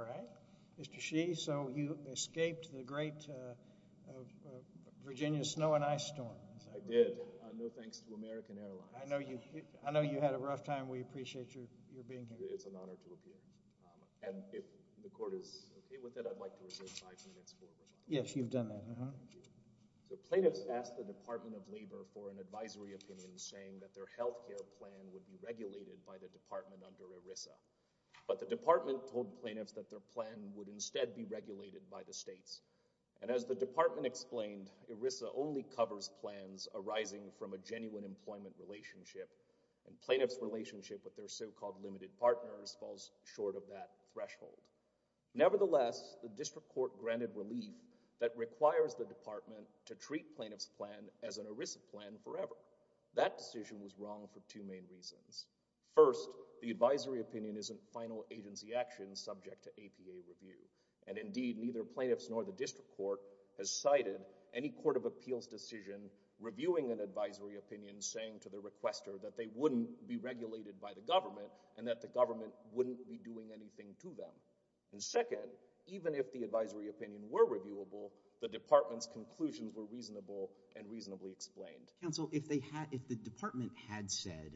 All right, Mr. Sheehy, so you escaped the great Virginia snow and ice storm. I did. No thanks to American Airlines. I know you had a rough time. We appreciate your being here. It's an honor to appear. And if the court is okay with it, I'd like to reserve five minutes for remarks. Yes, you've done that. So plaintiffs asked the Department of Labor for an advisory opinion saying that their health care plan would be regulated by the department under ERISA. But the department told plaintiffs that their plan would instead be regulated by the states. And as the department explained, ERISA only covers plans arising from a genuine employment relationship. And plaintiffs' relationship with their so-called limited partners falls short of that threshold. Nevertheless, the district court granted relief that requires the department to treat plaintiffs' plan as an ERISA plan forever. That decision was wrong for two main reasons. First, the advisory opinion isn't final agency action subject to APA review. And indeed, neither plaintiffs nor the district court has cited any court of appeals decision reviewing an advisory opinion saying to the requester that they wouldn't be regulated by the government and that the government wouldn't be doing anything to them. And second, even if the advisory opinion were reviewable, the department's conclusions were reasonable and reasonably explained. Counsel, if the department had said,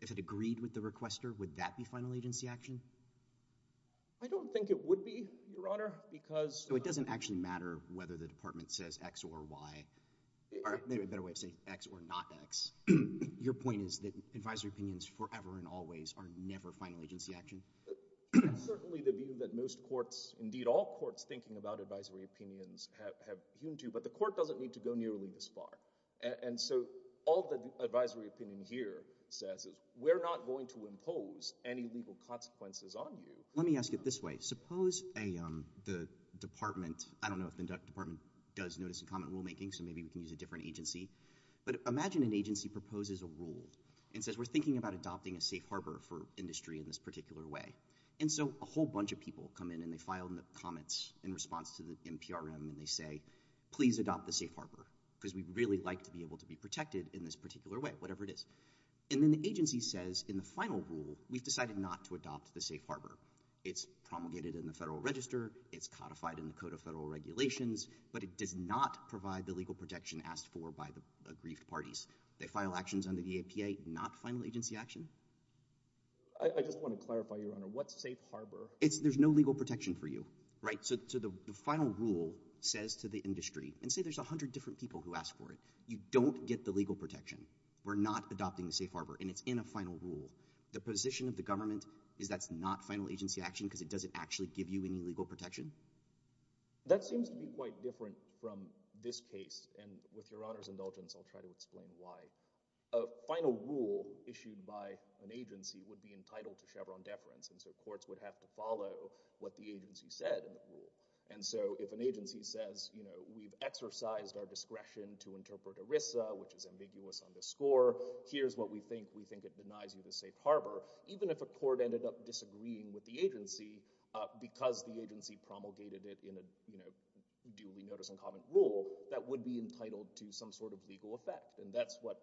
if it agreed with the requester, would that be final agency action? I don't think it would be, Your Honor, because— So it doesn't actually matter whether the department says X or Y. Or maybe a better way to say X or not X. Your point is that advisory opinions forever and always are never final agency action? That's certainly the view that most courts, indeed all courts, thinking about advisory opinions have hewn to. But the court doesn't need to go nearly this far. And so all the advisory opinion here says is we're not going to impose any legal consequences on you. Let me ask it this way. Suppose the department—I don't know if the department does notice and comment rulemaking, so maybe we can use a different agency—but imagine an agency proposes a rule and says we're thinking about adopting a safe harbor for industry in this particular way. And so a whole bunch of people come in and they file the comments in response to the NPRM and they say please adopt the safe harbor because we'd really like to be able to be protected in this particular way, whatever it is. And then the agency says in the final rule we've decided not to adopt the safe harbor. It's promulgated in the Federal Register. It's codified in the Code of Federal Regulations. But it does not provide the legal protection asked for by the aggrieved parties. They file actions under the APA, not final agency action. I just want to clarify, Your Honor, what's safe harbor? There's no legal protection for you, right? So the final rule says to the industry, and say there's 100 different people who ask for it, you don't get the legal protection. We're not adopting the safe harbor, and it's in a final rule. The position of the government is that's not final agency action because it doesn't actually give you any legal protection? That seems to be quite different from this case, and with Your Honor's indulgence I'll try to explain why. A final rule issued by an agency would be entitled to Chevron deference, and so courts would have to follow what the agency said in the rule. And so if an agency says we've exercised our discretion to interpret ERISA, which is ambiguous on the score, here's what we think, we think it denies you the safe harbor, even if a court ended up disagreeing with the agency because the agency promulgated it in a duly notice and comment rule, that would be entitled to some sort of legal effect. And that's what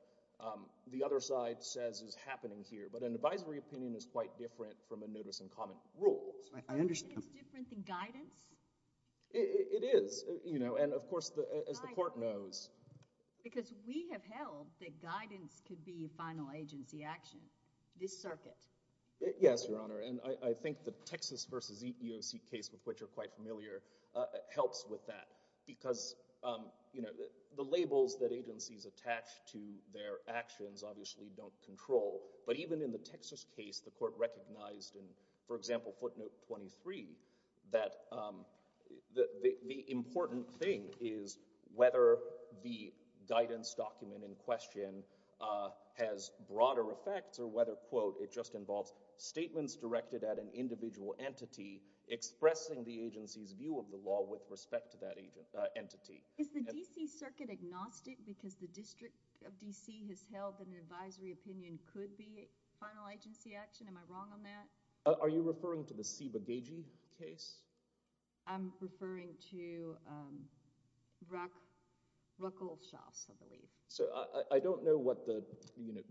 the other side says is happening here. But an advisory opinion is quite different from a notice and comment rule. It's different than guidance? It is, you know, and of course as the court knows. Because we have held that guidance could be final agency action, this circuit. Yes, Your Honor, and I think the Texas v. EEOC case with which you're quite familiar helps with that because the labels that agencies attach to their actions obviously don't control. But even in the Texas case, the court recognized in, for example, footnote 23, that the important thing is whether the guidance document in question has broader effects or whether, quote, it just involves statements directed at an individual entity expressing the agency's view of the law with respect to that entity. Is the D.C. circuit agnostic because the District of D.C. has held that an advisory opinion could be final agency action? Am I wrong on that? Are you referring to the Seba Gagee case? I'm referring to Ruckelshaus, I believe. I don't know what the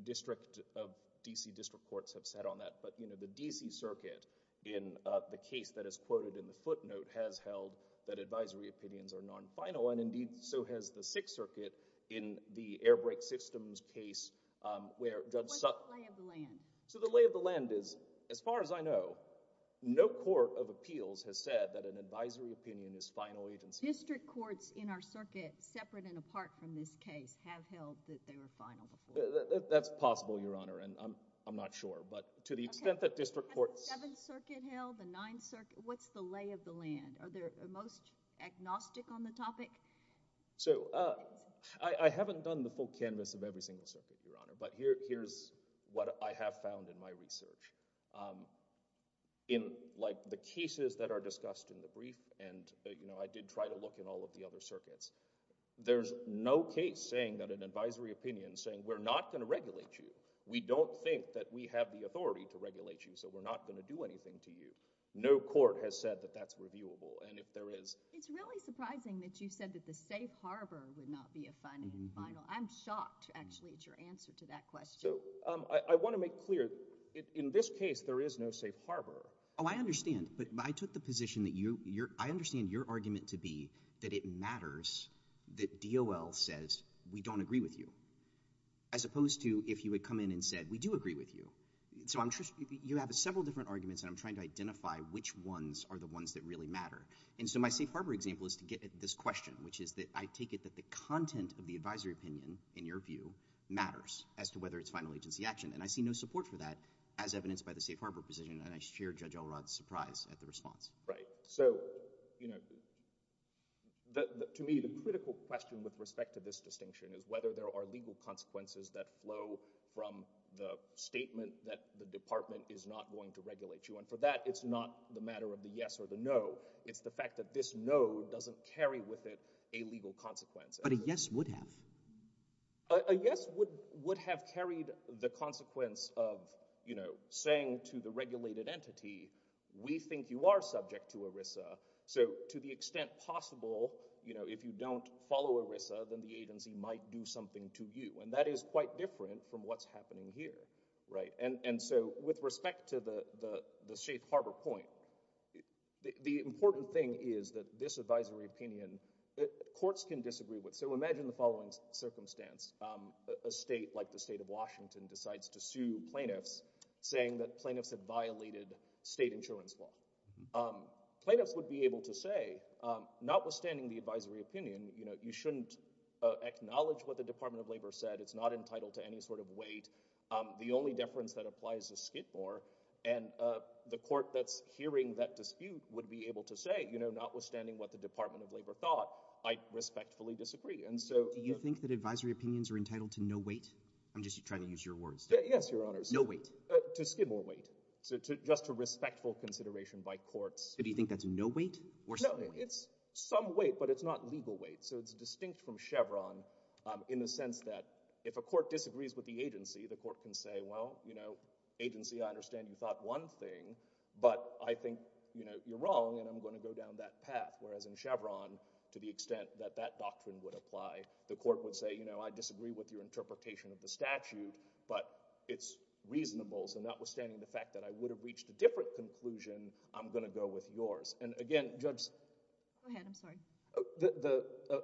District of D.C. district courts have said on that, but the D.C. circuit in the case that is quoted in the footnote has held that advisory opinions are non-final, and indeed so has the Sixth Circuit in the Airbrake Systems case where Judge Sutton— What's the lay of the land? So the lay of the land is, as far as I know, no court of appeals has said that an advisory opinion is final agency. District courts in our circuit, separate and apart from this case, have held that they were final before. That's possible, Your Honor, and I'm not sure. But to the extent that district courts— The Seventh Circuit held, the Ninth Circuit. What's the lay of the land? Are they most agnostic on the topic? I haven't done the full canvas of every single circuit, Your Honor, but here's what I have found in my research. In the cases that are discussed in the brief, and I did try to look in all of the other circuits, there's no case saying that an advisory opinion is saying, we're not going to regulate you. We don't think that we have the authority to regulate you, so we're not going to do anything to you. No court has said that that's reviewable, and if there is— It's really surprising that you said that the safe harbor would not be a final. I'm shocked, actually, at your answer to that question. I want to make clear, in this case, there is no safe harbor. Oh, I understand, but I took the position that you— I understand your argument to be that it matters that DOL says, we don't agree with you, as opposed to if you had come in and said, we do agree with you. So you have several different arguments, and I'm trying to identify which ones are the ones that really matter. And so my safe harbor example is to get at this question, which is that I take it that the content of the advisory opinion, in your view, matters as to whether it's final agency action, and I see no support for that as evidenced by the safe harbor position, and I share Judge Elrod's surprise at the response. Right. So to me, the critical question with respect to this distinction is whether there are legal consequences that flow from the statement that the department is not going to regulate you. And for that, it's not the matter of the yes or the no. It's the fact that this no doesn't carry with it a legal consequence. But a yes would have. A yes would have carried the consequence of, you know, saying to the regulated entity, we think you are subject to ERISA. So to the extent possible, you know, if you don't follow ERISA, then the agency might do something to you. And that is quite different from what's happening here. Right. And so with respect to the safe harbor point, the important thing is that this advisory opinion, courts can disagree with. So imagine the following circumstance. A state like the state of Washington decides to sue plaintiffs, saying that plaintiffs had violated state insurance law. Plaintiffs would be able to say, notwithstanding the advisory opinion, you know, you shouldn't acknowledge what the Department of Labor said. It's not entitled to any sort of weight. The only deference that applies is skid more. And the court that's hearing that dispute would be able to say, you know, notwithstanding what the Department of Labor thought, I respectfully disagree. And so— Do you think that advisory opinions are entitled to no weight? I'm just trying to use your words. Yes, Your Honors. No weight. To skid more weight. Just a respectful consideration by courts. Do you think that's no weight or some weight? No, it's some weight, but it's not legal weight. So it's distinct from Chevron in the sense that if a court disagrees with the agency, the court can say, well, you know, agency, I understand you thought one thing, but I think, you know, you're wrong and I'm going to go down that path. Whereas in Chevron, to the extent that that doctrine would apply, the court would say, you know, I disagree with your interpretation of the statute, but it's reasonable, so notwithstanding the fact that I would have reached a different conclusion, I'm going to go with yours. And again, Judge— Go ahead. I'm sorry.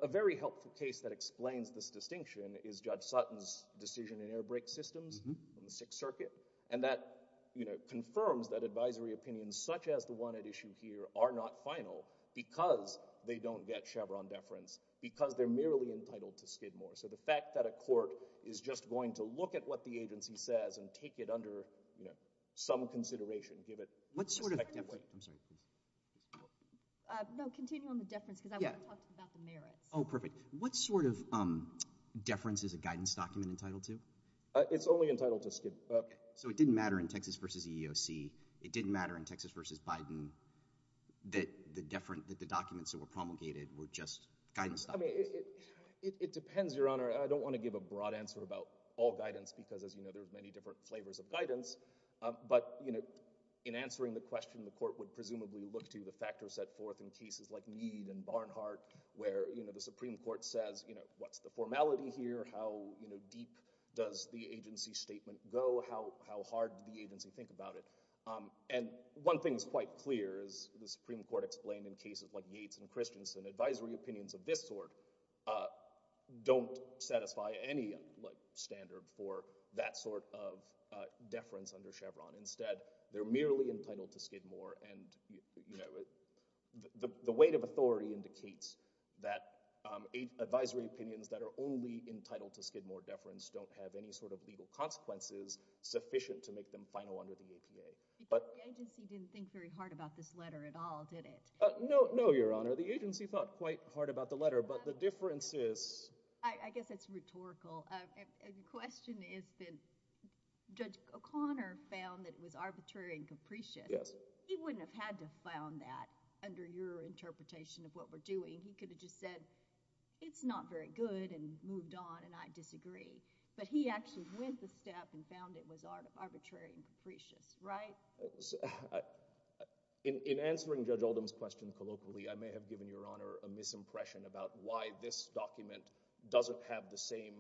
A very helpful case that explains this distinction is Judge Sutton's decision in air brake systems in the Sixth Circuit. And that, you know, confirms that advisory opinions such as the one at issue here are not final because they don't get Chevron deference, because they're merely entitled to skid more. So the fact that a court is just going to look at what the agency says and take it under, you know, some consideration, give it— What sort of— I'm sorry. No, continue on the deference, because I want to talk about the merits. Oh, perfect. What sort of deference is a guidance document entitled to? It's only entitled to skid. So it didn't matter in Texas v. EEOC. It didn't matter in Texas v. Biden that the documents that were promulgated were just guidance documents. I mean, it depends, Your Honor. I don't want to give a broad answer about all guidance because, as you know, there are many different flavors of guidance. But, you know, in answering the question, the court would presumably look to the factors set forth in cases like Meade and Barnhart, where, you know, the Supreme Court says, you know, what's the formality here? How, you know, deep does the agency statement go? How hard did the agency think about it? And one thing is quite clear is the Supreme Court explained in cases like Yates and Christensen, advisory opinions of this sort don't satisfy any standard for that sort of deference under Chevron. Instead, they're merely entitled to skid more, and, you know, the weight of authority indicates that advisory opinions that are only entitled to skid more deference don't have any sort of legal consequences sufficient to make them final under the APA. The agency didn't think very hard about this letter at all, did it? No, Your Honor. The agency thought quite hard about the letter, but the difference is— I guess it's rhetorical. The question is that Judge O'Connor found that it was arbitrary and capricious. Yes. He wouldn't have had to have found that under your interpretation of what we're doing. He could have just said it's not very good and moved on, and I disagree. But he actually went the step and found it was arbitrary and capricious, right? In answering Judge Oldham's question colloquially, I may have given Your Honor a misimpression about why this document doesn't have the same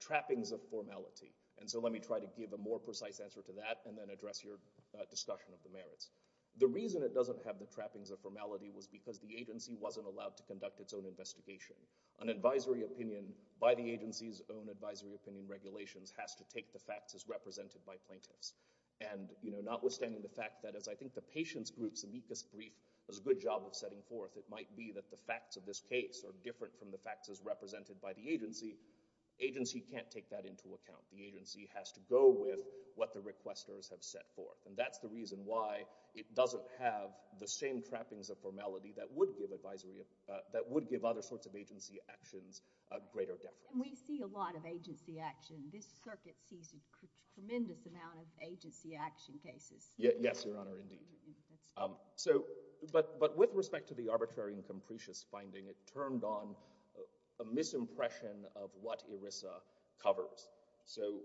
trappings of formality. And so let me try to give a more precise answer to that and then address your discussion of the merits. The reason it doesn't have the trappings of formality was because the agency wasn't allowed to conduct its own investigation. An advisory opinion by the agency's own advisory opinion regulations has to take the facts as represented by plaintiffs. And, you know, notwithstanding the fact that, as I think the patient's group's amicus brief does a good job of setting forth, it might be that the facts of this case are different from the facts as represented by the agency. Agency can't take that into account. The agency has to go with what the requesters have set forth. And that's the reason why it doesn't have the same trappings of formality that would give advisory— that would give other sorts of agency actions a greater deference. And we see a lot of agency action. This circuit sees a tremendous amount of agency action cases. Yes, Your Honor, indeed. But with respect to the arbitrary and capricious finding, it turned on a misimpression of what ERISA covers. So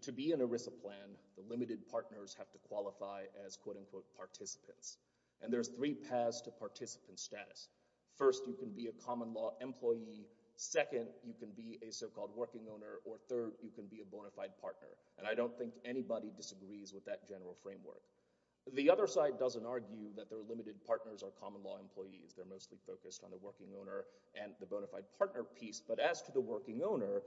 to be an ERISA plan, the limited partners have to qualify as, quote-unquote, participants. And there's three paths to participant status. First, you can be a common law employee. Second, you can be a so-called working owner. Or third, you can be a bona fide partner. And I don't think anybody disagrees with that general framework. The other side doesn't argue that their limited partners are common law employees. They're mostly focused on the working owner and the bona fide partner piece. But as to the working owner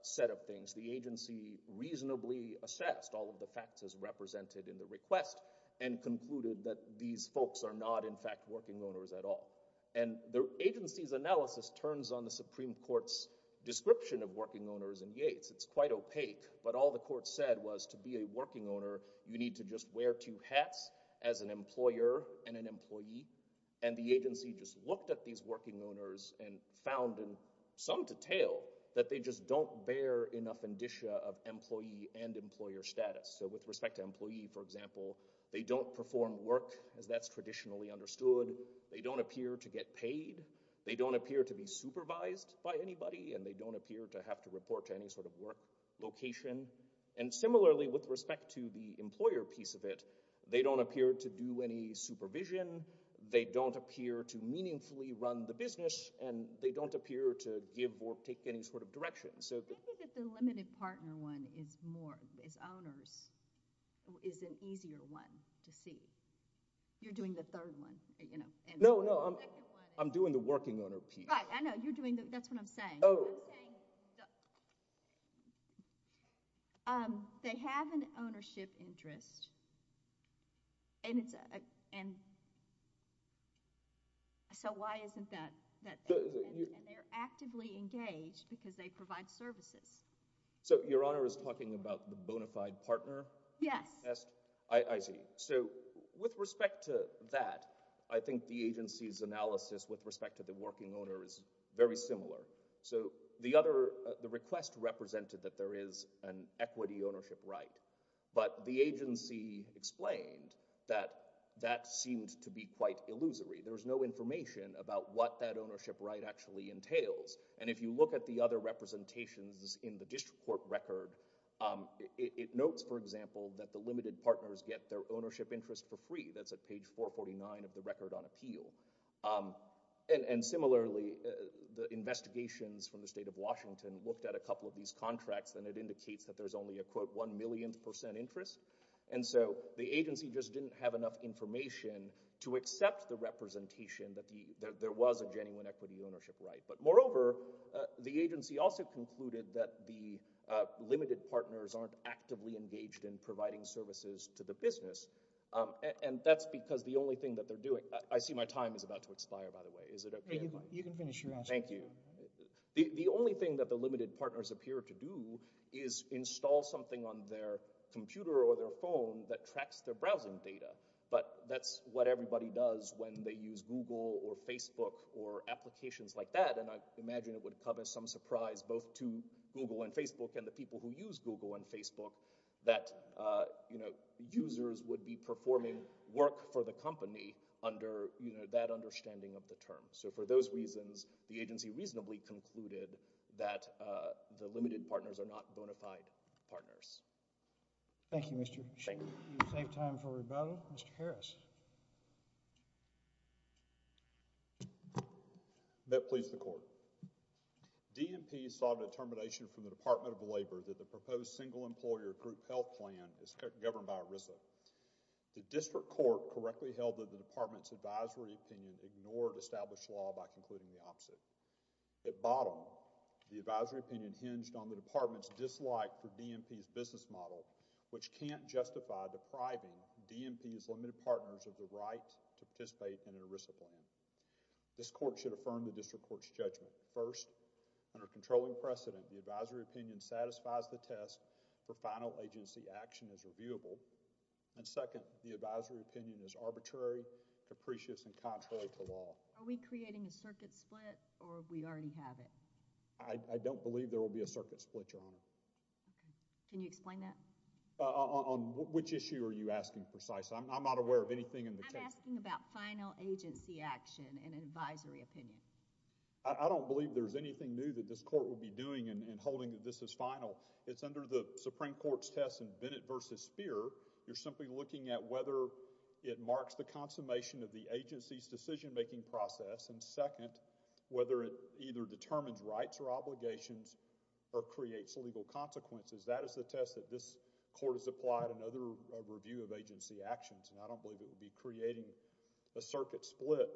set of things, the agency reasonably assessed all of the facts as represented in the request and concluded that these folks are not, in fact, working owners at all. And the agency's analysis turns on the Supreme Court's description of working owners in Yates. It's quite opaque. But all the court said was to be a working owner, you need to just wear two hats as an employer and an employee. And the agency just looked at these working owners and found in some detail that they just don't bear enough indicia of employee and employer status. So with respect to employee, for example, they don't perform work as that's traditionally understood. They don't appear to get paid. They don't appear to be supervised by anybody. And they don't appear to have to report to any sort of work location. And similarly, with respect to the employer piece of it, they don't appear to do any supervision. They don't appear to meaningfully run the business. And they don't appear to give or take any sort of direction. I think that the limited partner one is more, as owners, is an easier one to see. You're doing the third one. No, no. I'm doing the working owner piece. Right. I know. You're doing the—that's what I'm saying. I'm saying they have an ownership interest, and so why isn't that— And they're actively engaged because they provide services. So Your Honor is talking about the bona fide partner test? Yes. I see. So with respect to that, I think the agency's analysis with respect to the working owner is very similar. So the request represented that there is an equity ownership right, but the agency explained that that seemed to be quite illusory. There's no information about what that ownership right actually entails. And if you look at the other representations in the district court record, it notes, for example, that the limited partners get their ownership interest for free. That's at page 449 of the record on appeal. And similarly, the investigations from the state of Washington looked at a couple of these contracts, and it indicates that there's only a, quote, one millionth percent interest. And so the agency just didn't have enough information to accept the representation that there was a genuine equity ownership right. But moreover, the agency also concluded that the limited partners aren't actively engaged in providing services to the business, and that's because the only thing that they're doing—I see my time is about to expire, by the way. Is it okay if I— You can finish your answer. Thank you. The only thing that the limited partners appear to do is install something on their computer or their phone that tracks their browsing data. But that's what everybody does when they use Google or Facebook or applications like that, and I imagine it would come as some surprise both to Google and Facebook and the people who use Google and Facebook that users would be performing work for the company under that understanding of the term. So for those reasons, the agency reasonably concluded that the limited partners are not bona fide partners. Thank you, Mr. Sheehan. Thank you. We'll save time for rebuttal. Mr. Harris. May it please the Court. DNP sought a determination from the Department of Labor that the proposed single-employer group health plan is governed by ERISA. The district court correctly held that the department's advisory opinion ignored established law by concluding the opposite. At bottom, the advisory opinion hinged on the department's dislike for DNP's business model, which can't justify depriving DNP's limited partners of the right to participate in an ERISA plan. This court should affirm the district court's judgment. First, under controlling precedent, the advisory opinion satisfies the test for final agency action as reviewable. And second, the advisory opinion is arbitrary, capricious, and contrary to law. Are we creating a circuit split, or we already have it? I don't believe there will be a circuit split, Your Honor. Can you explain that? On which issue are you asking precisely? I'm not aware of anything in the case. I'm asking about final agency action and advisory opinion. I don't believe there's anything new that this court will be doing in holding that this is final. It's under the Supreme Court's test in Bennett v. Speer. You're simply looking at whether it marks the consummation of the agency's decision-making process. And second, whether it either determines rights or obligations or creates legal consequences. That is the test that this court has applied in other review of agency actions, and I don't believe it would be creating a circuit split.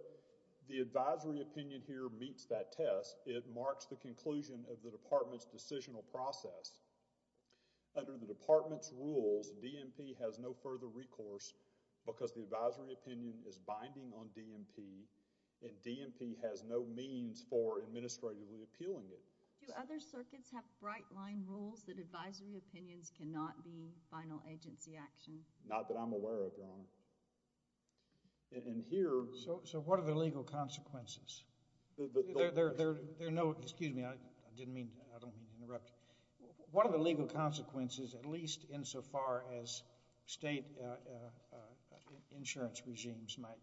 If the advisory opinion here meets that test, it marks the conclusion of the department's decisional process. Under the department's rules, DMP has no further recourse because the advisory opinion is binding on DMP, and DMP has no means for administratively appealing it. Do other circuits have bright-line rules that advisory opinions cannot be final agency action? Not that I'm aware of, Your Honor. And here— So what are the legal consequences? There are no—excuse me, I didn't mean to—I don't mean to interrupt. What are the legal consequences, at least insofar as state insurance regimes might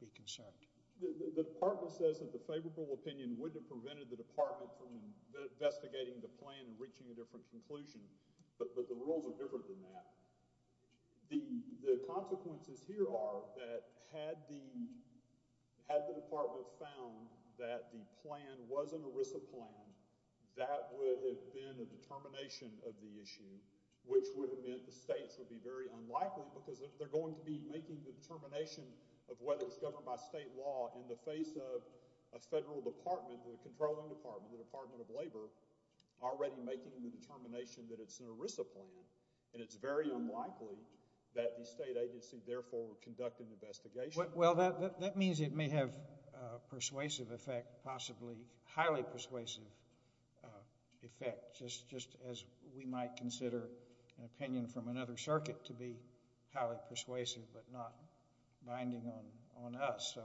be concerned? The department says that the favorable opinion would have prevented the department from investigating the plan and reaching a different conclusion, but the rules are different than that. The consequences here are that had the department found that the plan was an ERISA plan, that would have been a determination of the issue, which would have meant the states would be very unlikely because they're going to be making the determination of whether it's governed by state law in the face of a federal department, the controlling department, the Department of Labor, already making the determination that it's an ERISA plan, and it's very unlikely that the state agency, therefore, would conduct an investigation. Well, that means it may have persuasive effect, possibly highly persuasive effect, just as we might consider an opinion from another circuit to be highly persuasive but not binding on us. So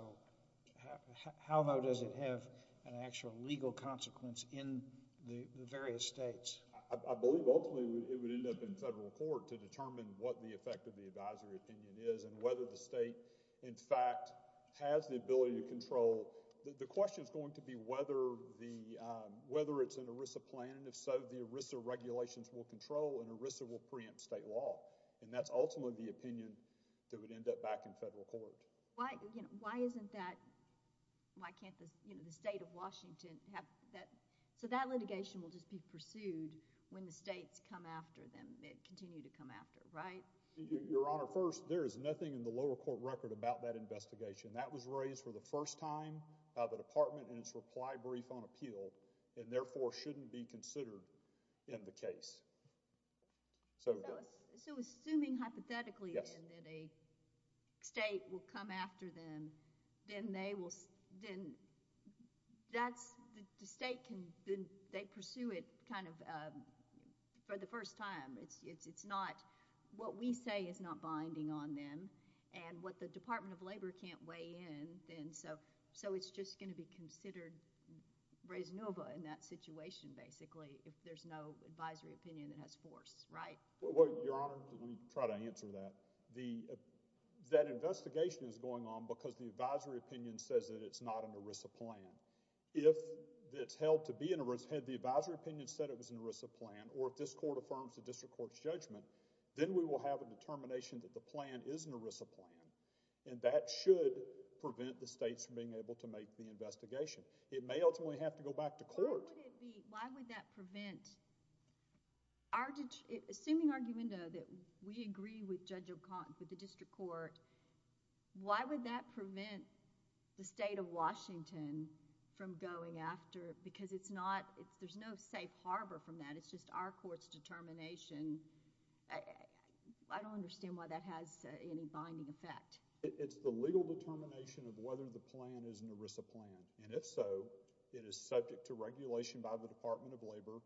how low does it have an actual legal consequence in the various states? I believe ultimately it would end up in federal court to determine what the effect of the advisory opinion is and whether the state, in fact, has the ability to control... The question is going to be whether it's an ERISA plan, and if so, the ERISA regulations will control and ERISA will preempt state law, and that's ultimately the opinion that would end up back in federal court. Why isn't that... Why can't the state of Washington have that... That opinion will just be pursued when the states come after them and continue to come after, right? Your Honor, first, there is nothing in the lower court record about that investigation. That was raised for the first time by the department in its reply brief on appeal and therefore shouldn't be considered in the case. So assuming hypothetically then that a state will come after them, then they will... Then that's... The state can... They pursue it kind of for the first time. It's not... What we say is not binding on them, and what the Department of Labor can't weigh in, then so it's just going to be considered raisonable in that situation, basically, if there's no advisory opinion that has force, right? Your Honor, let me try to answer that. That investigation is going on because the advisory opinion says that it's not an ERISA plan. If it's held to be an ERISA... Had the advisory opinion said it was an ERISA plan, or if this court affirms the district court's judgment, then we will have a determination that the plan is an ERISA plan, and that should prevent the states from being able to make the investigation. It may ultimately have to go back to court. Why would it be... Why would that prevent... Assuming argumenta that we agree with Judge O'Connor for the district court, why would that prevent the state of Washington from going after... because it's not... There's no safe harbor from that. It's just our court's determination. I don't understand why that has any binding effect. It's the legal determination of whether the plan is an ERISA plan, and if so, it is subject to regulation by the Department of Labor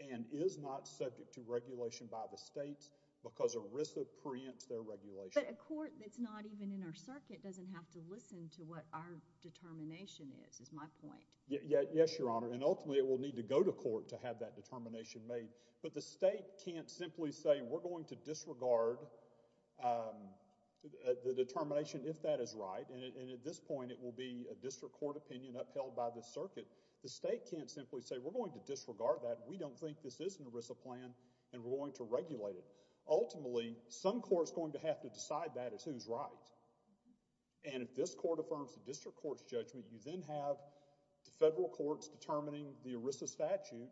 and is not subject to regulation by the states because ERISA preempts their regulation. But a court that's not even in our circuit doesn't have to listen to what our determination is, is my point. Yes, Your Honor, and ultimately it will need to go to court to have that determination made, but the state can't simply say, we're going to disregard the determination if that is right, and at this point it will be a district court opinion upheld by the circuit. The state can't simply say, we're going to disregard that. We don't think this is an ERISA plan, and we're going to regulate it. Ultimately, some court's going to have to decide that as who's right, and if this court affirms the district court's judgment, you then have the federal courts determining the ERISA statute,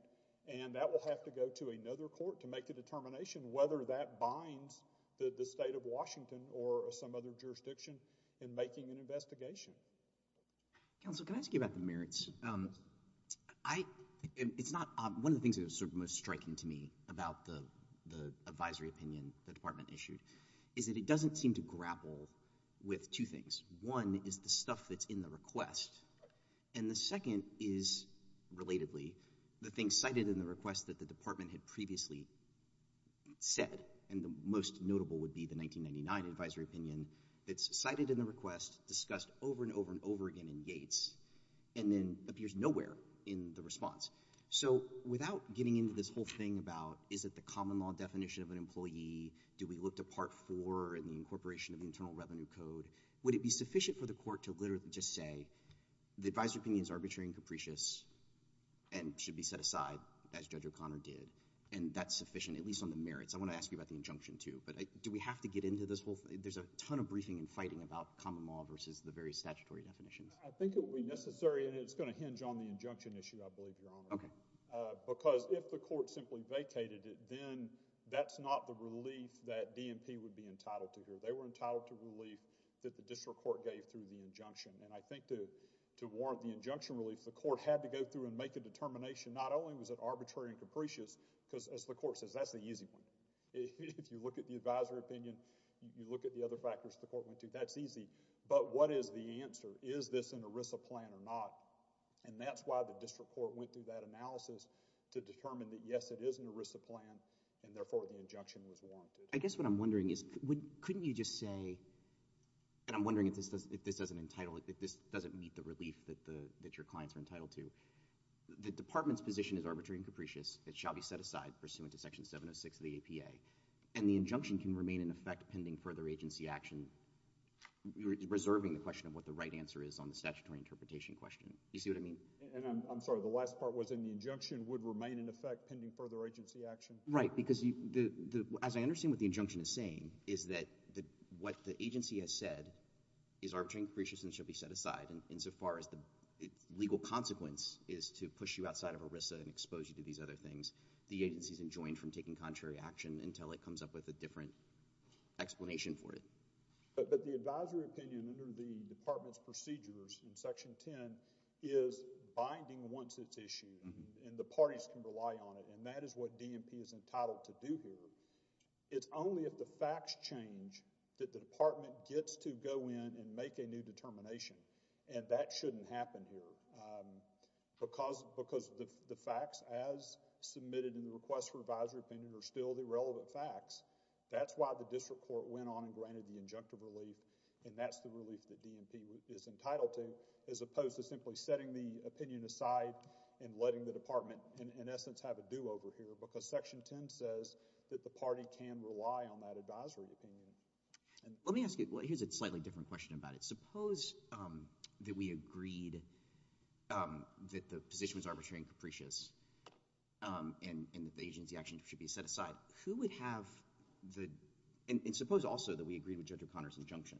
and that will have to go to another court to make the determination whether that binds the state of Washington or some other jurisdiction in making an investigation. Counsel, can I ask you about the merits? One of the things that was sort of most striking to me about the advisory opinion the department issued is that it doesn't seem to grapple with two things. One is the stuff that's in the request, and the second is, relatively, the thing cited in the request that the department had previously said, and the most notable would be the 1999 advisory opinion, that's cited in the request, discussed over and over and over again in Yates, and then appears nowhere in the response. So without getting into this whole thing about, is it the common law definition of an employee, do we look to Part 4 and the incorporation of the Internal Revenue Code, would it be sufficient for the court to literally just say, the advisory opinion is arbitrary and capricious, and should be set aside, as Judge O'Connor did, and that's sufficient, at least on the merits. I want to ask you about the injunction too, but do we have to get into this whole thing? There's a ton of briefing and fighting about common law versus the various statutory definitions. I think it would be necessary, and it's going to hinge on the injunction issue, I believe, Your Honor. Okay. Because if the court simply vacated it, then that's not the relief that DNP would be entitled to here. They were entitled to relief that the district court gave through the injunction, and I think to warrant the injunction relief, the court had to go through and make a determination, not only was it arbitrary and capricious, because as the court says, that's the easy one. If you look at the advisory opinion, you look at the other factors the court went to, that's easy, but what is the answer? Is this an ERISA plan or not? And that's why the district court went through that analysis to determine that yes, it is an ERISA plan, and therefore the injunction was warranted. I guess what I'm wondering is, couldn't you just say, and I'm wondering if this doesn't meet the relief that your clients are entitled to, that the department's position is arbitrary and capricious, it shall be set aside pursuant to Section 706 of the APA, and the injunction can remain in effect pending further agency action, reserving the question of what the right answer is on the statutory interpretation question. Do you see what I mean? And I'm sorry. The last part was in the injunction would remain in effect pending further agency action. Right, because as I understand what the injunction is saying, is that what the agency has said is arbitrary and capricious and shall be set aside insofar as the legal consequence is to push you outside of ERISA and expose you to these other things. The agency is enjoined from taking contrary action until it comes up with a different explanation for it. But the advisory opinion under the department's procedures in Section 10 is binding once it's issued, and the parties can rely on it, and that is what DMP is entitled to do here. It's only if the facts change that the department gets to go in and make a new determination, and that shouldn't happen here. Because the facts as submitted in the request for advisory opinion are still the relevant facts, that's why the district court went on and granted the injunctive relief, and that's the relief that DMP is entitled to, as opposed to simply setting the opinion aside and letting the department in essence have a do-over here because Section 10 says that the party can rely on that advisory opinion. Let me ask you, well, here's a slightly different question about it. Suppose that we agreed that the position was arbitrary and capricious and that the agency action should be set aside. Who would have the, and suppose also that we agreed with Judge O'Connor's injunction.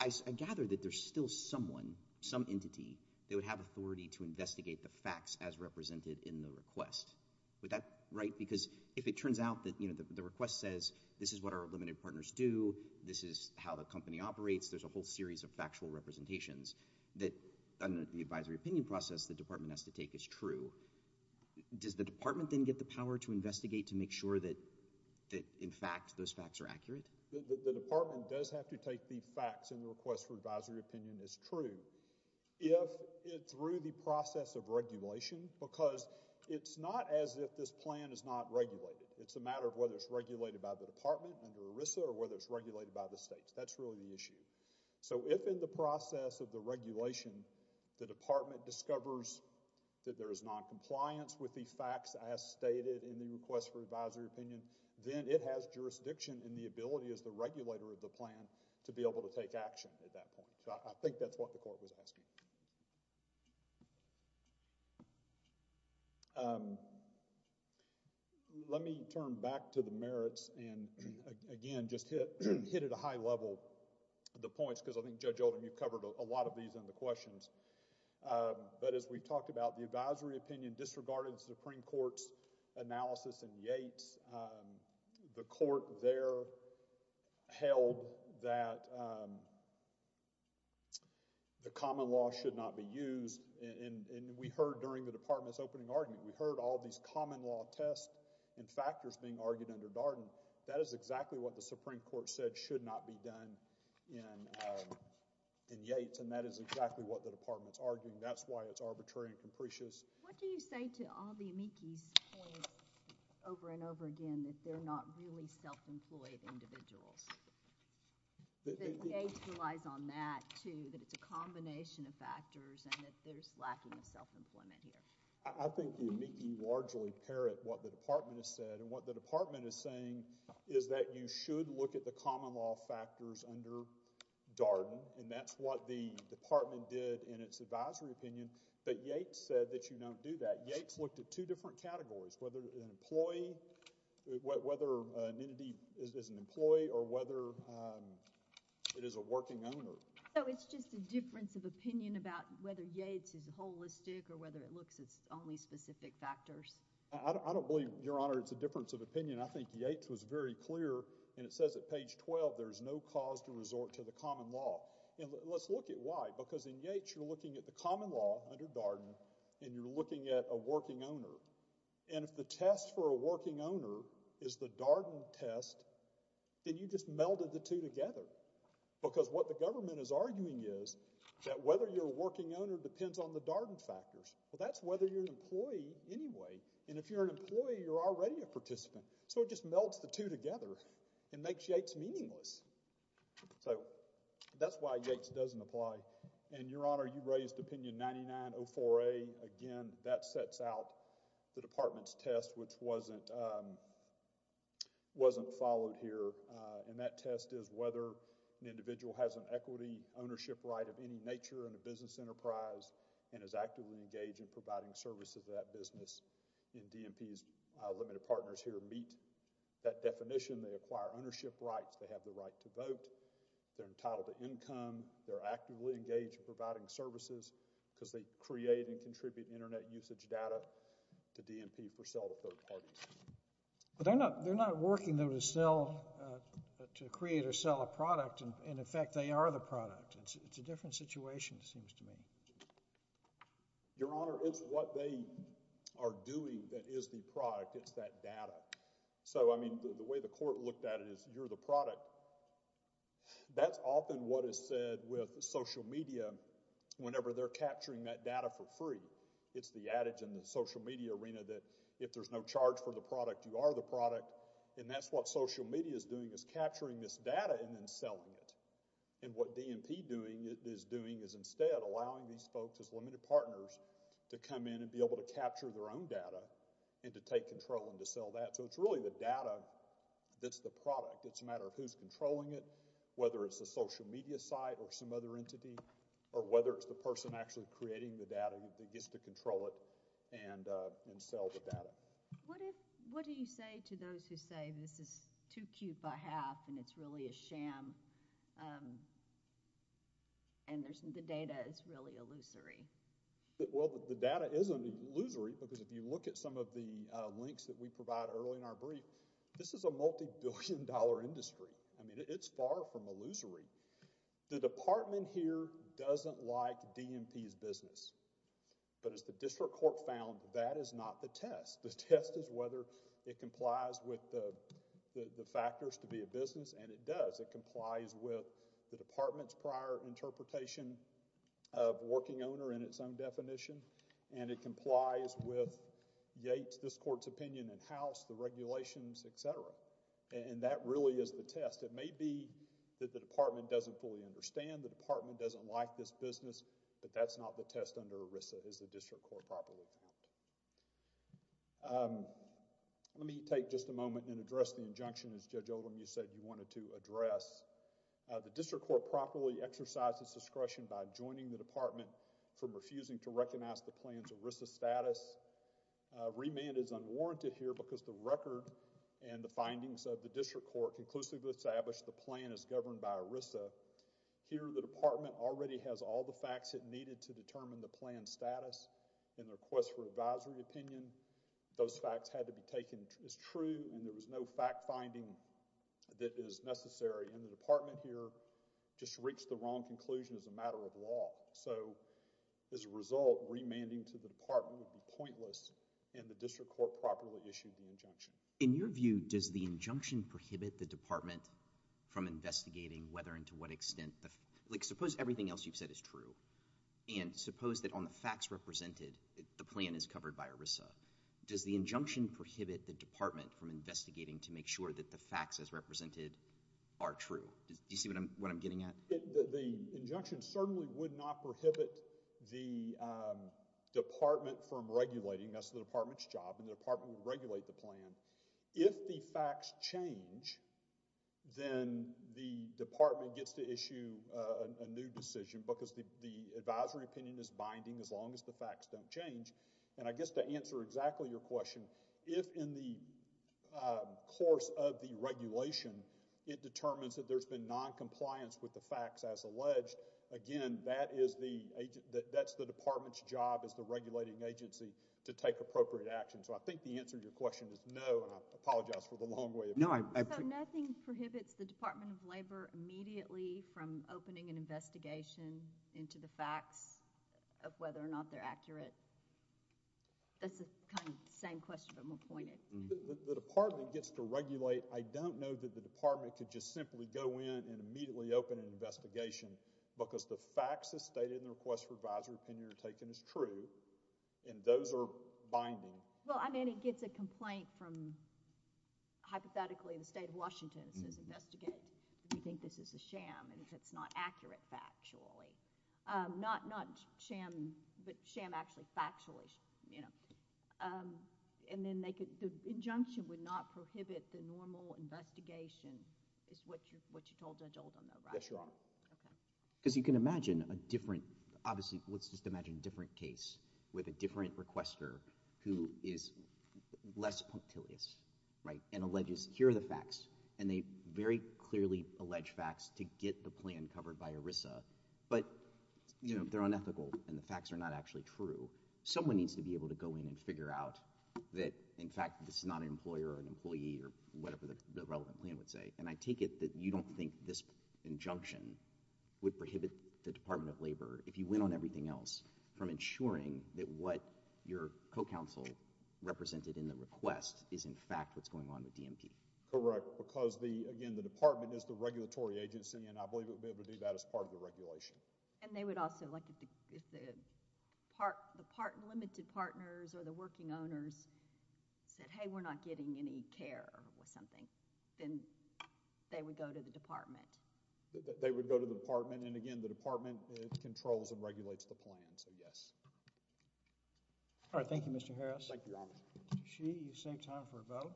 I gather that there's still someone, some entity, that would have authority to investigate the facts as represented in the request. Would that, right, because if it turns out that the request says this is what our limited partners do, this is how the company operates, there's a whole series of factual representations, that under the advisory opinion process the department has to take as true. Does the department then get the power to investigate to make sure that in fact those facts are accurate? The department does have to take the facts in the request for advisory opinion as true. If through the process of regulation, because it's not as if this plan is not regulated. It's a matter of whether it's regulated by the department under ERISA or whether it's regulated by the states. That's really the issue. So if in the process of the regulation, the department discovers that there is noncompliance with the facts as stated in the request for advisory opinion, then it has jurisdiction in the ability as the regulator of the plan to be able to take action at that point. So I think that's what the court was asking. Let me turn back to the merits and again just hit at a high level the points because I think Judge Oldham you covered a lot of these in the questions. But as we talked about the advisory opinion disregarded the Supreme Court's analysis in Yates, the court there held that the common law should not be used and we heard during the department's opening argument. We heard all these common law tests and factors being argued under Darden. That is exactly what the Supreme Court said should not be done in Yates and that is exactly what the department's arguing. That's why it's arbitrary and capricious. What do you say to all the amici's points over and over again that they're not really self-employed individuals? Yates relies on that too, that it's a combination of factors and that there's lacking of self-employment here. I think the amici largely parrot what the department has said and what the department is saying is that you should look at the common law factors under Darden and that's what the department did in its advisory opinion. But Yates said that you don't do that. Yates looked at two different categories, whether an employee, whether an entity is an employee or whether it is a working owner. So it's just a difference of opinion about whether Yates is holistic or whether it looks at only specific factors? I don't believe, Your Honor, it's a difference of opinion. I think Yates was very clear and it says at page 12 there's no cause to resort to the common law. Let's look at why. Because in Yates you're looking at the common law under Darden and you're looking at a working owner and if the test for a working owner is the Darden test, then you just melded the two together because what the government is arguing is that whether you're a working owner depends on the Darden factors. Well, that's whether you're an employee anyway and if you're an employee, you're already a participant. So it just melts the two together and makes Yates meaningless. So that's why Yates doesn't apply. And, Your Honor, you raised opinion 9904A. Again, that sets out the department's test which wasn't followed here and that test is whether an individual has an equity ownership right of any nature in a business enterprise and is actively engaged in providing services to that business. And DMP's limited partners here meet that definition. They acquire ownership rights. They have the right to vote. They're entitled to income. They're actively engaged in providing services because they create and contribute Internet usage data to DMP for sale to third parties. But they're not working to create or sell a product and, in effect, they are the product. It's a different situation, it seems to me. Your Honor, it's what they are doing that is the product. It's that data. So, I mean, the way the court looked at it is you're the product. That's often what is said with social media whenever they're capturing that data for free. It's the adage in the social media arena that if there's no charge for the product, you are the product. And that's what social media is doing is capturing this data and then selling it. And what DMP is doing is instead allowing these folks as limited partners to come in and be able to capture their own data and to take control and to sell that. So it's really the data that's the product. It's a matter of who's controlling it, whether it's a social media site or some other entity, or whether it's the person actually creating the data that gets to control it and sell the data. What do you say to those who say this is too cute by half and it's really a sham and the data is really illusory? Well, the data isn't illusory because if you look at some of the links that we provide early in our brief, this is a multi-billion dollar industry. I mean, it's far from illusory. The department here doesn't like DMP's business. But as the district court found, that is not the test. The test is whether it complies with the factors to be a business and it does. It complies with the department's prior interpretation of working owner in its own definition and it complies with Yates, this court's opinion in-house, the regulations, etc. And that really is the test. It may be that the department doesn't fully understand, the department doesn't like this business, but that's not the test under ERISA as the district court properly found. Let me take just a moment and address the injunction as Judge Oldham, you said you wanted to address. The district court properly exercises discretion by joining the department from refusing to recognize the plan's ERISA status. Remand is unwarranted here because the record and the findings of the district court conclusively establish the plan is governed by ERISA. Here, the department already has all the facts it needed to determine the plan's status. In the request for advisory opinion, those facts had to be taken as true and there was no fact-finding that is necessary. And the department here just reached the wrong conclusion as a matter of law. So, as a result, remanding to the department would be pointless and the district court properly issued the injunction. In your view, does the injunction prohibit the department from investigating whether and to what extent, like suppose everything else you've said is true and suppose that on the facts represented, the plan is covered by ERISA. Does the injunction prohibit the department from investigating to make sure that the facts as represented are true? Do you see what I'm getting at? The injunction certainly would not prohibit the department from regulating. That's the department's job and the department would regulate the plan. If the facts change, then the department gets to issue a new decision because the advisory opinion is binding as long as the facts don't change. And I guess to answer exactly your question, if in the course of the regulation, it determines that there's been noncompliance with the facts as alleged, again, that's the department's job as the regulating agency to take appropriate action. So, I think the answer to your question is no, and I apologize for the long way it went. So, nothing prohibits the Department of Labor immediately from opening an investigation into the facts of whether or not they're accurate? The department gets to regulate. I don't know that the department could just simply go in and immediately open an investigation because the facts as stated in the request for advisory opinion are taken as true and those are binding. Well, I mean, it gets a complaint from, hypothetically, the state of Washington that says, investigate if you think this is a sham and if it's not accurate factually. Not sham, but sham actually factually, you know. And then the injunction would not prohibit the normal investigation is what you told Judge Oldham though, right? Yes, Your Honor. Okay. Because you can imagine a different, obviously, let's just imagine a different case with a different requester who is less punctilious, right, and alleges here are the facts and they very clearly allege facts to get the plan covered by ERISA, but, you know, they're unethical and the facts are not actually true. Someone needs to be able to go in and figure out that, in fact, this is not an employer or an employee or whatever the relevant plan would say. And I take it that you don't think this injunction would prohibit the Department of Labor, if you went on everything else, from ensuring that what your co-counsel represented in the request is, in fact, what's going on with DMP. Correct. Because, again, the department is the regulatory agency and I believe it would be able to do that as part of the regulation. And they would also, like, if the limited partners or the working owners said, hey, we're not getting any care or something, then they would go to the department. They would go to the department. And, again, the department controls and regulates the plan, so yes. All right. Thank you, Mr. Harris. Thank you, Your Honor. Mr. Sheehy, you save time for a vote.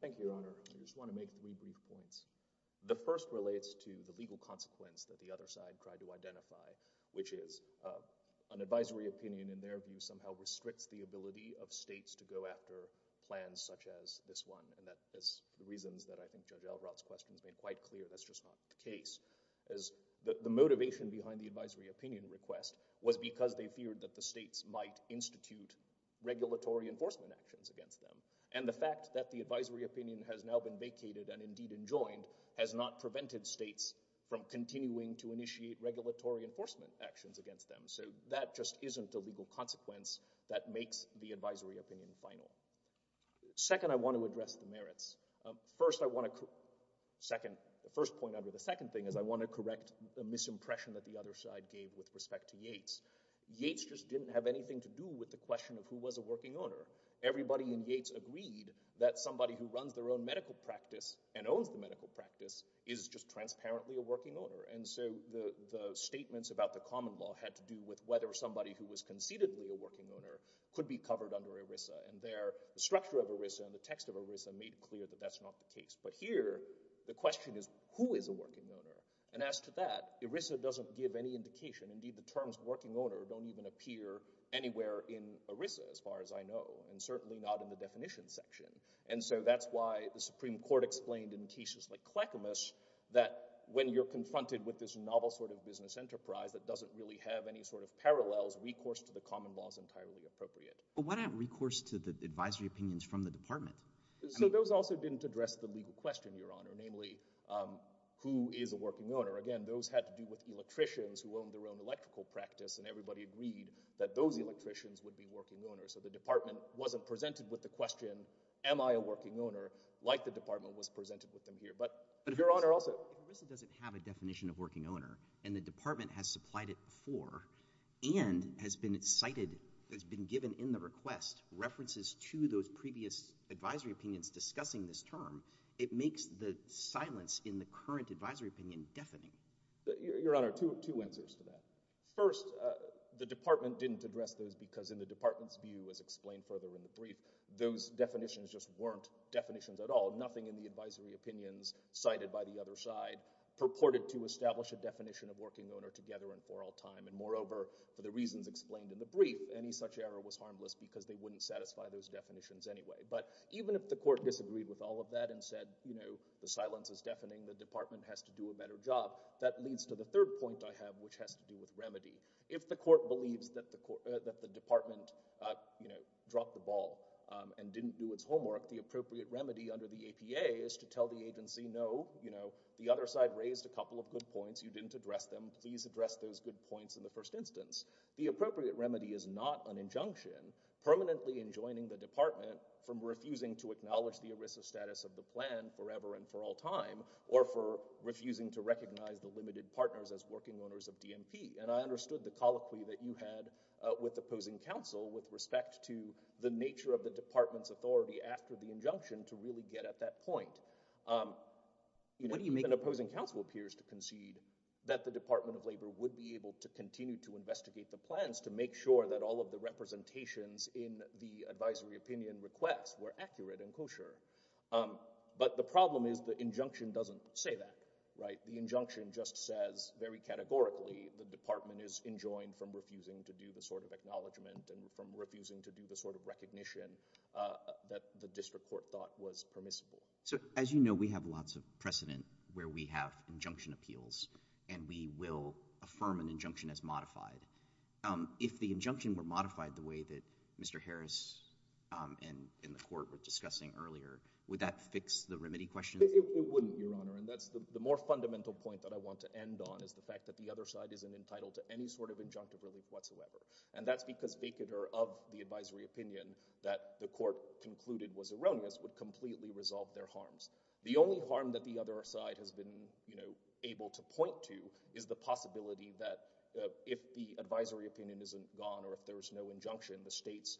Thank you, Your Honor. I just want to make three brief points. The first relates to the legal consequence that the other side tried to identify, which is an advisory opinion, in their view, somehow restricts the ability of states to go after plans such as this one. And that is the reasons that I think Judge Alvarado's question has been quite clear that's just not the case. The motivation behind the advisory opinion request was because they feared that the states might institute regulatory enforcement actions against them. And the fact that the advisory opinion has now been vacated and, indeed, enjoined, has not prevented states from continuing to initiate regulatory enforcement actions against them. So that just isn't a legal consequence that makes the advisory opinion final. Second, I want to address the merits. First, I want to correct the misimpression that the other side gave with respect to Yates. Yates just didn't have anything to do with the question of who was a working owner. Everybody in Yates agreed that somebody who runs their own medical practice and owns the medical practice is just transparently a working owner. And so the statements about the common law had to do with whether somebody who was conceitedly a working owner could be covered under ERISA. And there, the structure of ERISA and the text of ERISA made clear that that's not the case. But here, the question is, who is a working owner? And as to that, ERISA doesn't give any indication. Indeed, the terms working owner don't even appear anywhere in ERISA as far as I know and certainly not in the definition section. And so that's why the Supreme Court explained in cases like Clackamas that when you're confronted with this novel sort of business enterprise that doesn't really have any sort of parallels, recourse to the common law is entirely appropriate. But what about recourse to the advisory opinions from the department? So those also didn't address the legal question, Your Honor, namely who is a working owner. Again, those had to do with electricians who owned their own electrical practice and everybody agreed that those electricians would be working owners. So the department wasn't presented with the question, am I a working owner, like the department was presented with them here. But, Your Honor, also— If ERISA doesn't have a definition of working owner and the department has supplied it before and has been cited, has been given in the request, references to those previous advisory opinions discussing this term, it makes the silence in the current advisory opinion deafening. Your Honor, two answers to that. First, the department didn't address those because in the department's view, as explained further in the brief, those definitions just weren't definitions at all, nothing in the advisory opinions cited by the other side purported to establish a definition of working owner together and for all time. And moreover, for the reasons explained in the brief, any such error was harmless because they wouldn't satisfy those definitions anyway. But even if the court disagreed with all of that and said, you know, the silence is deafening, the department has to do a better job, that leads to the third point I have, which has to do with remedy. If the court believes that the department, you know, dropped the ball and didn't do its homework, the appropriate remedy under the APA is to tell the agency, no, you know, the other side raised a couple of good points, you didn't address them, please address those good points in the first instance. The appropriate remedy is not an injunction, permanently enjoining the department from refusing to acknowledge the ERISA status of the plan forever and for all time, or for refusing to recognize the limited partners as working owners of DMP. And I understood the colloquy that you had with opposing counsel with respect to the nature of the department's authority after the injunction to really get at that point. Even opposing counsel appears to concede that the Department of Labor would be able to continue to investigate the plans to make sure that all of the representations in the advisory opinion request were accurate and kosher. But the problem is the injunction doesn't say that, right? The injunction just says, very categorically, the department is enjoined from refusing to do the sort of acknowledgement and from refusing to do the sort of recognition that the district court thought was permissible. So, as you know, we have lots of precedent where we have injunction appeals and we will affirm an injunction as modified. If the injunction were modified the way that Mr. Harris and the court were discussing earlier, would that fix the remedy question? It wouldn't, Your Honor. And that's the more fundamental point that I want to end on is the fact that the other side isn't entitled to any sort of injunctive relief whatsoever. And that's because vacater of the advisory opinion that the court concluded was erroneous would completely resolve their harms. The only harm that the other side has been able to point to is the possibility that if the advisory opinion isn't gone or if there's no injunction, the states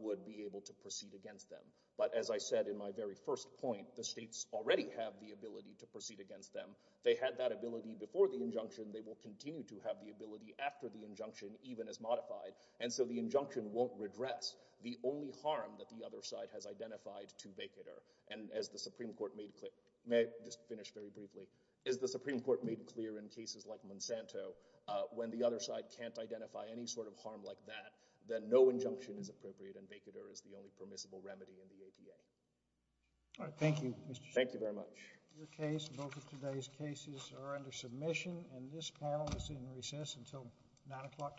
would be able to proceed against them. But as I said in my very first point, the states already have the ability to proceed against them. They had that ability before the injunction. They will continue to have the ability after the injunction, even as modified. And so the injunction won't redress the only harm that the other side has identified to vacater. And as the Supreme Court made clear... May I just finish very briefly? As the Supreme Court made clear in cases like Monsanto, when the other side can't identify any sort of harm like that, then no injunction is appropriate and vacater is the only permissible remedy in the APA. All right. Thank you, Mr. Schiff. Thank you very much. Your case and both of today's cases are under submission, and this panel is in recess until 9 o'clock tomorrow morning.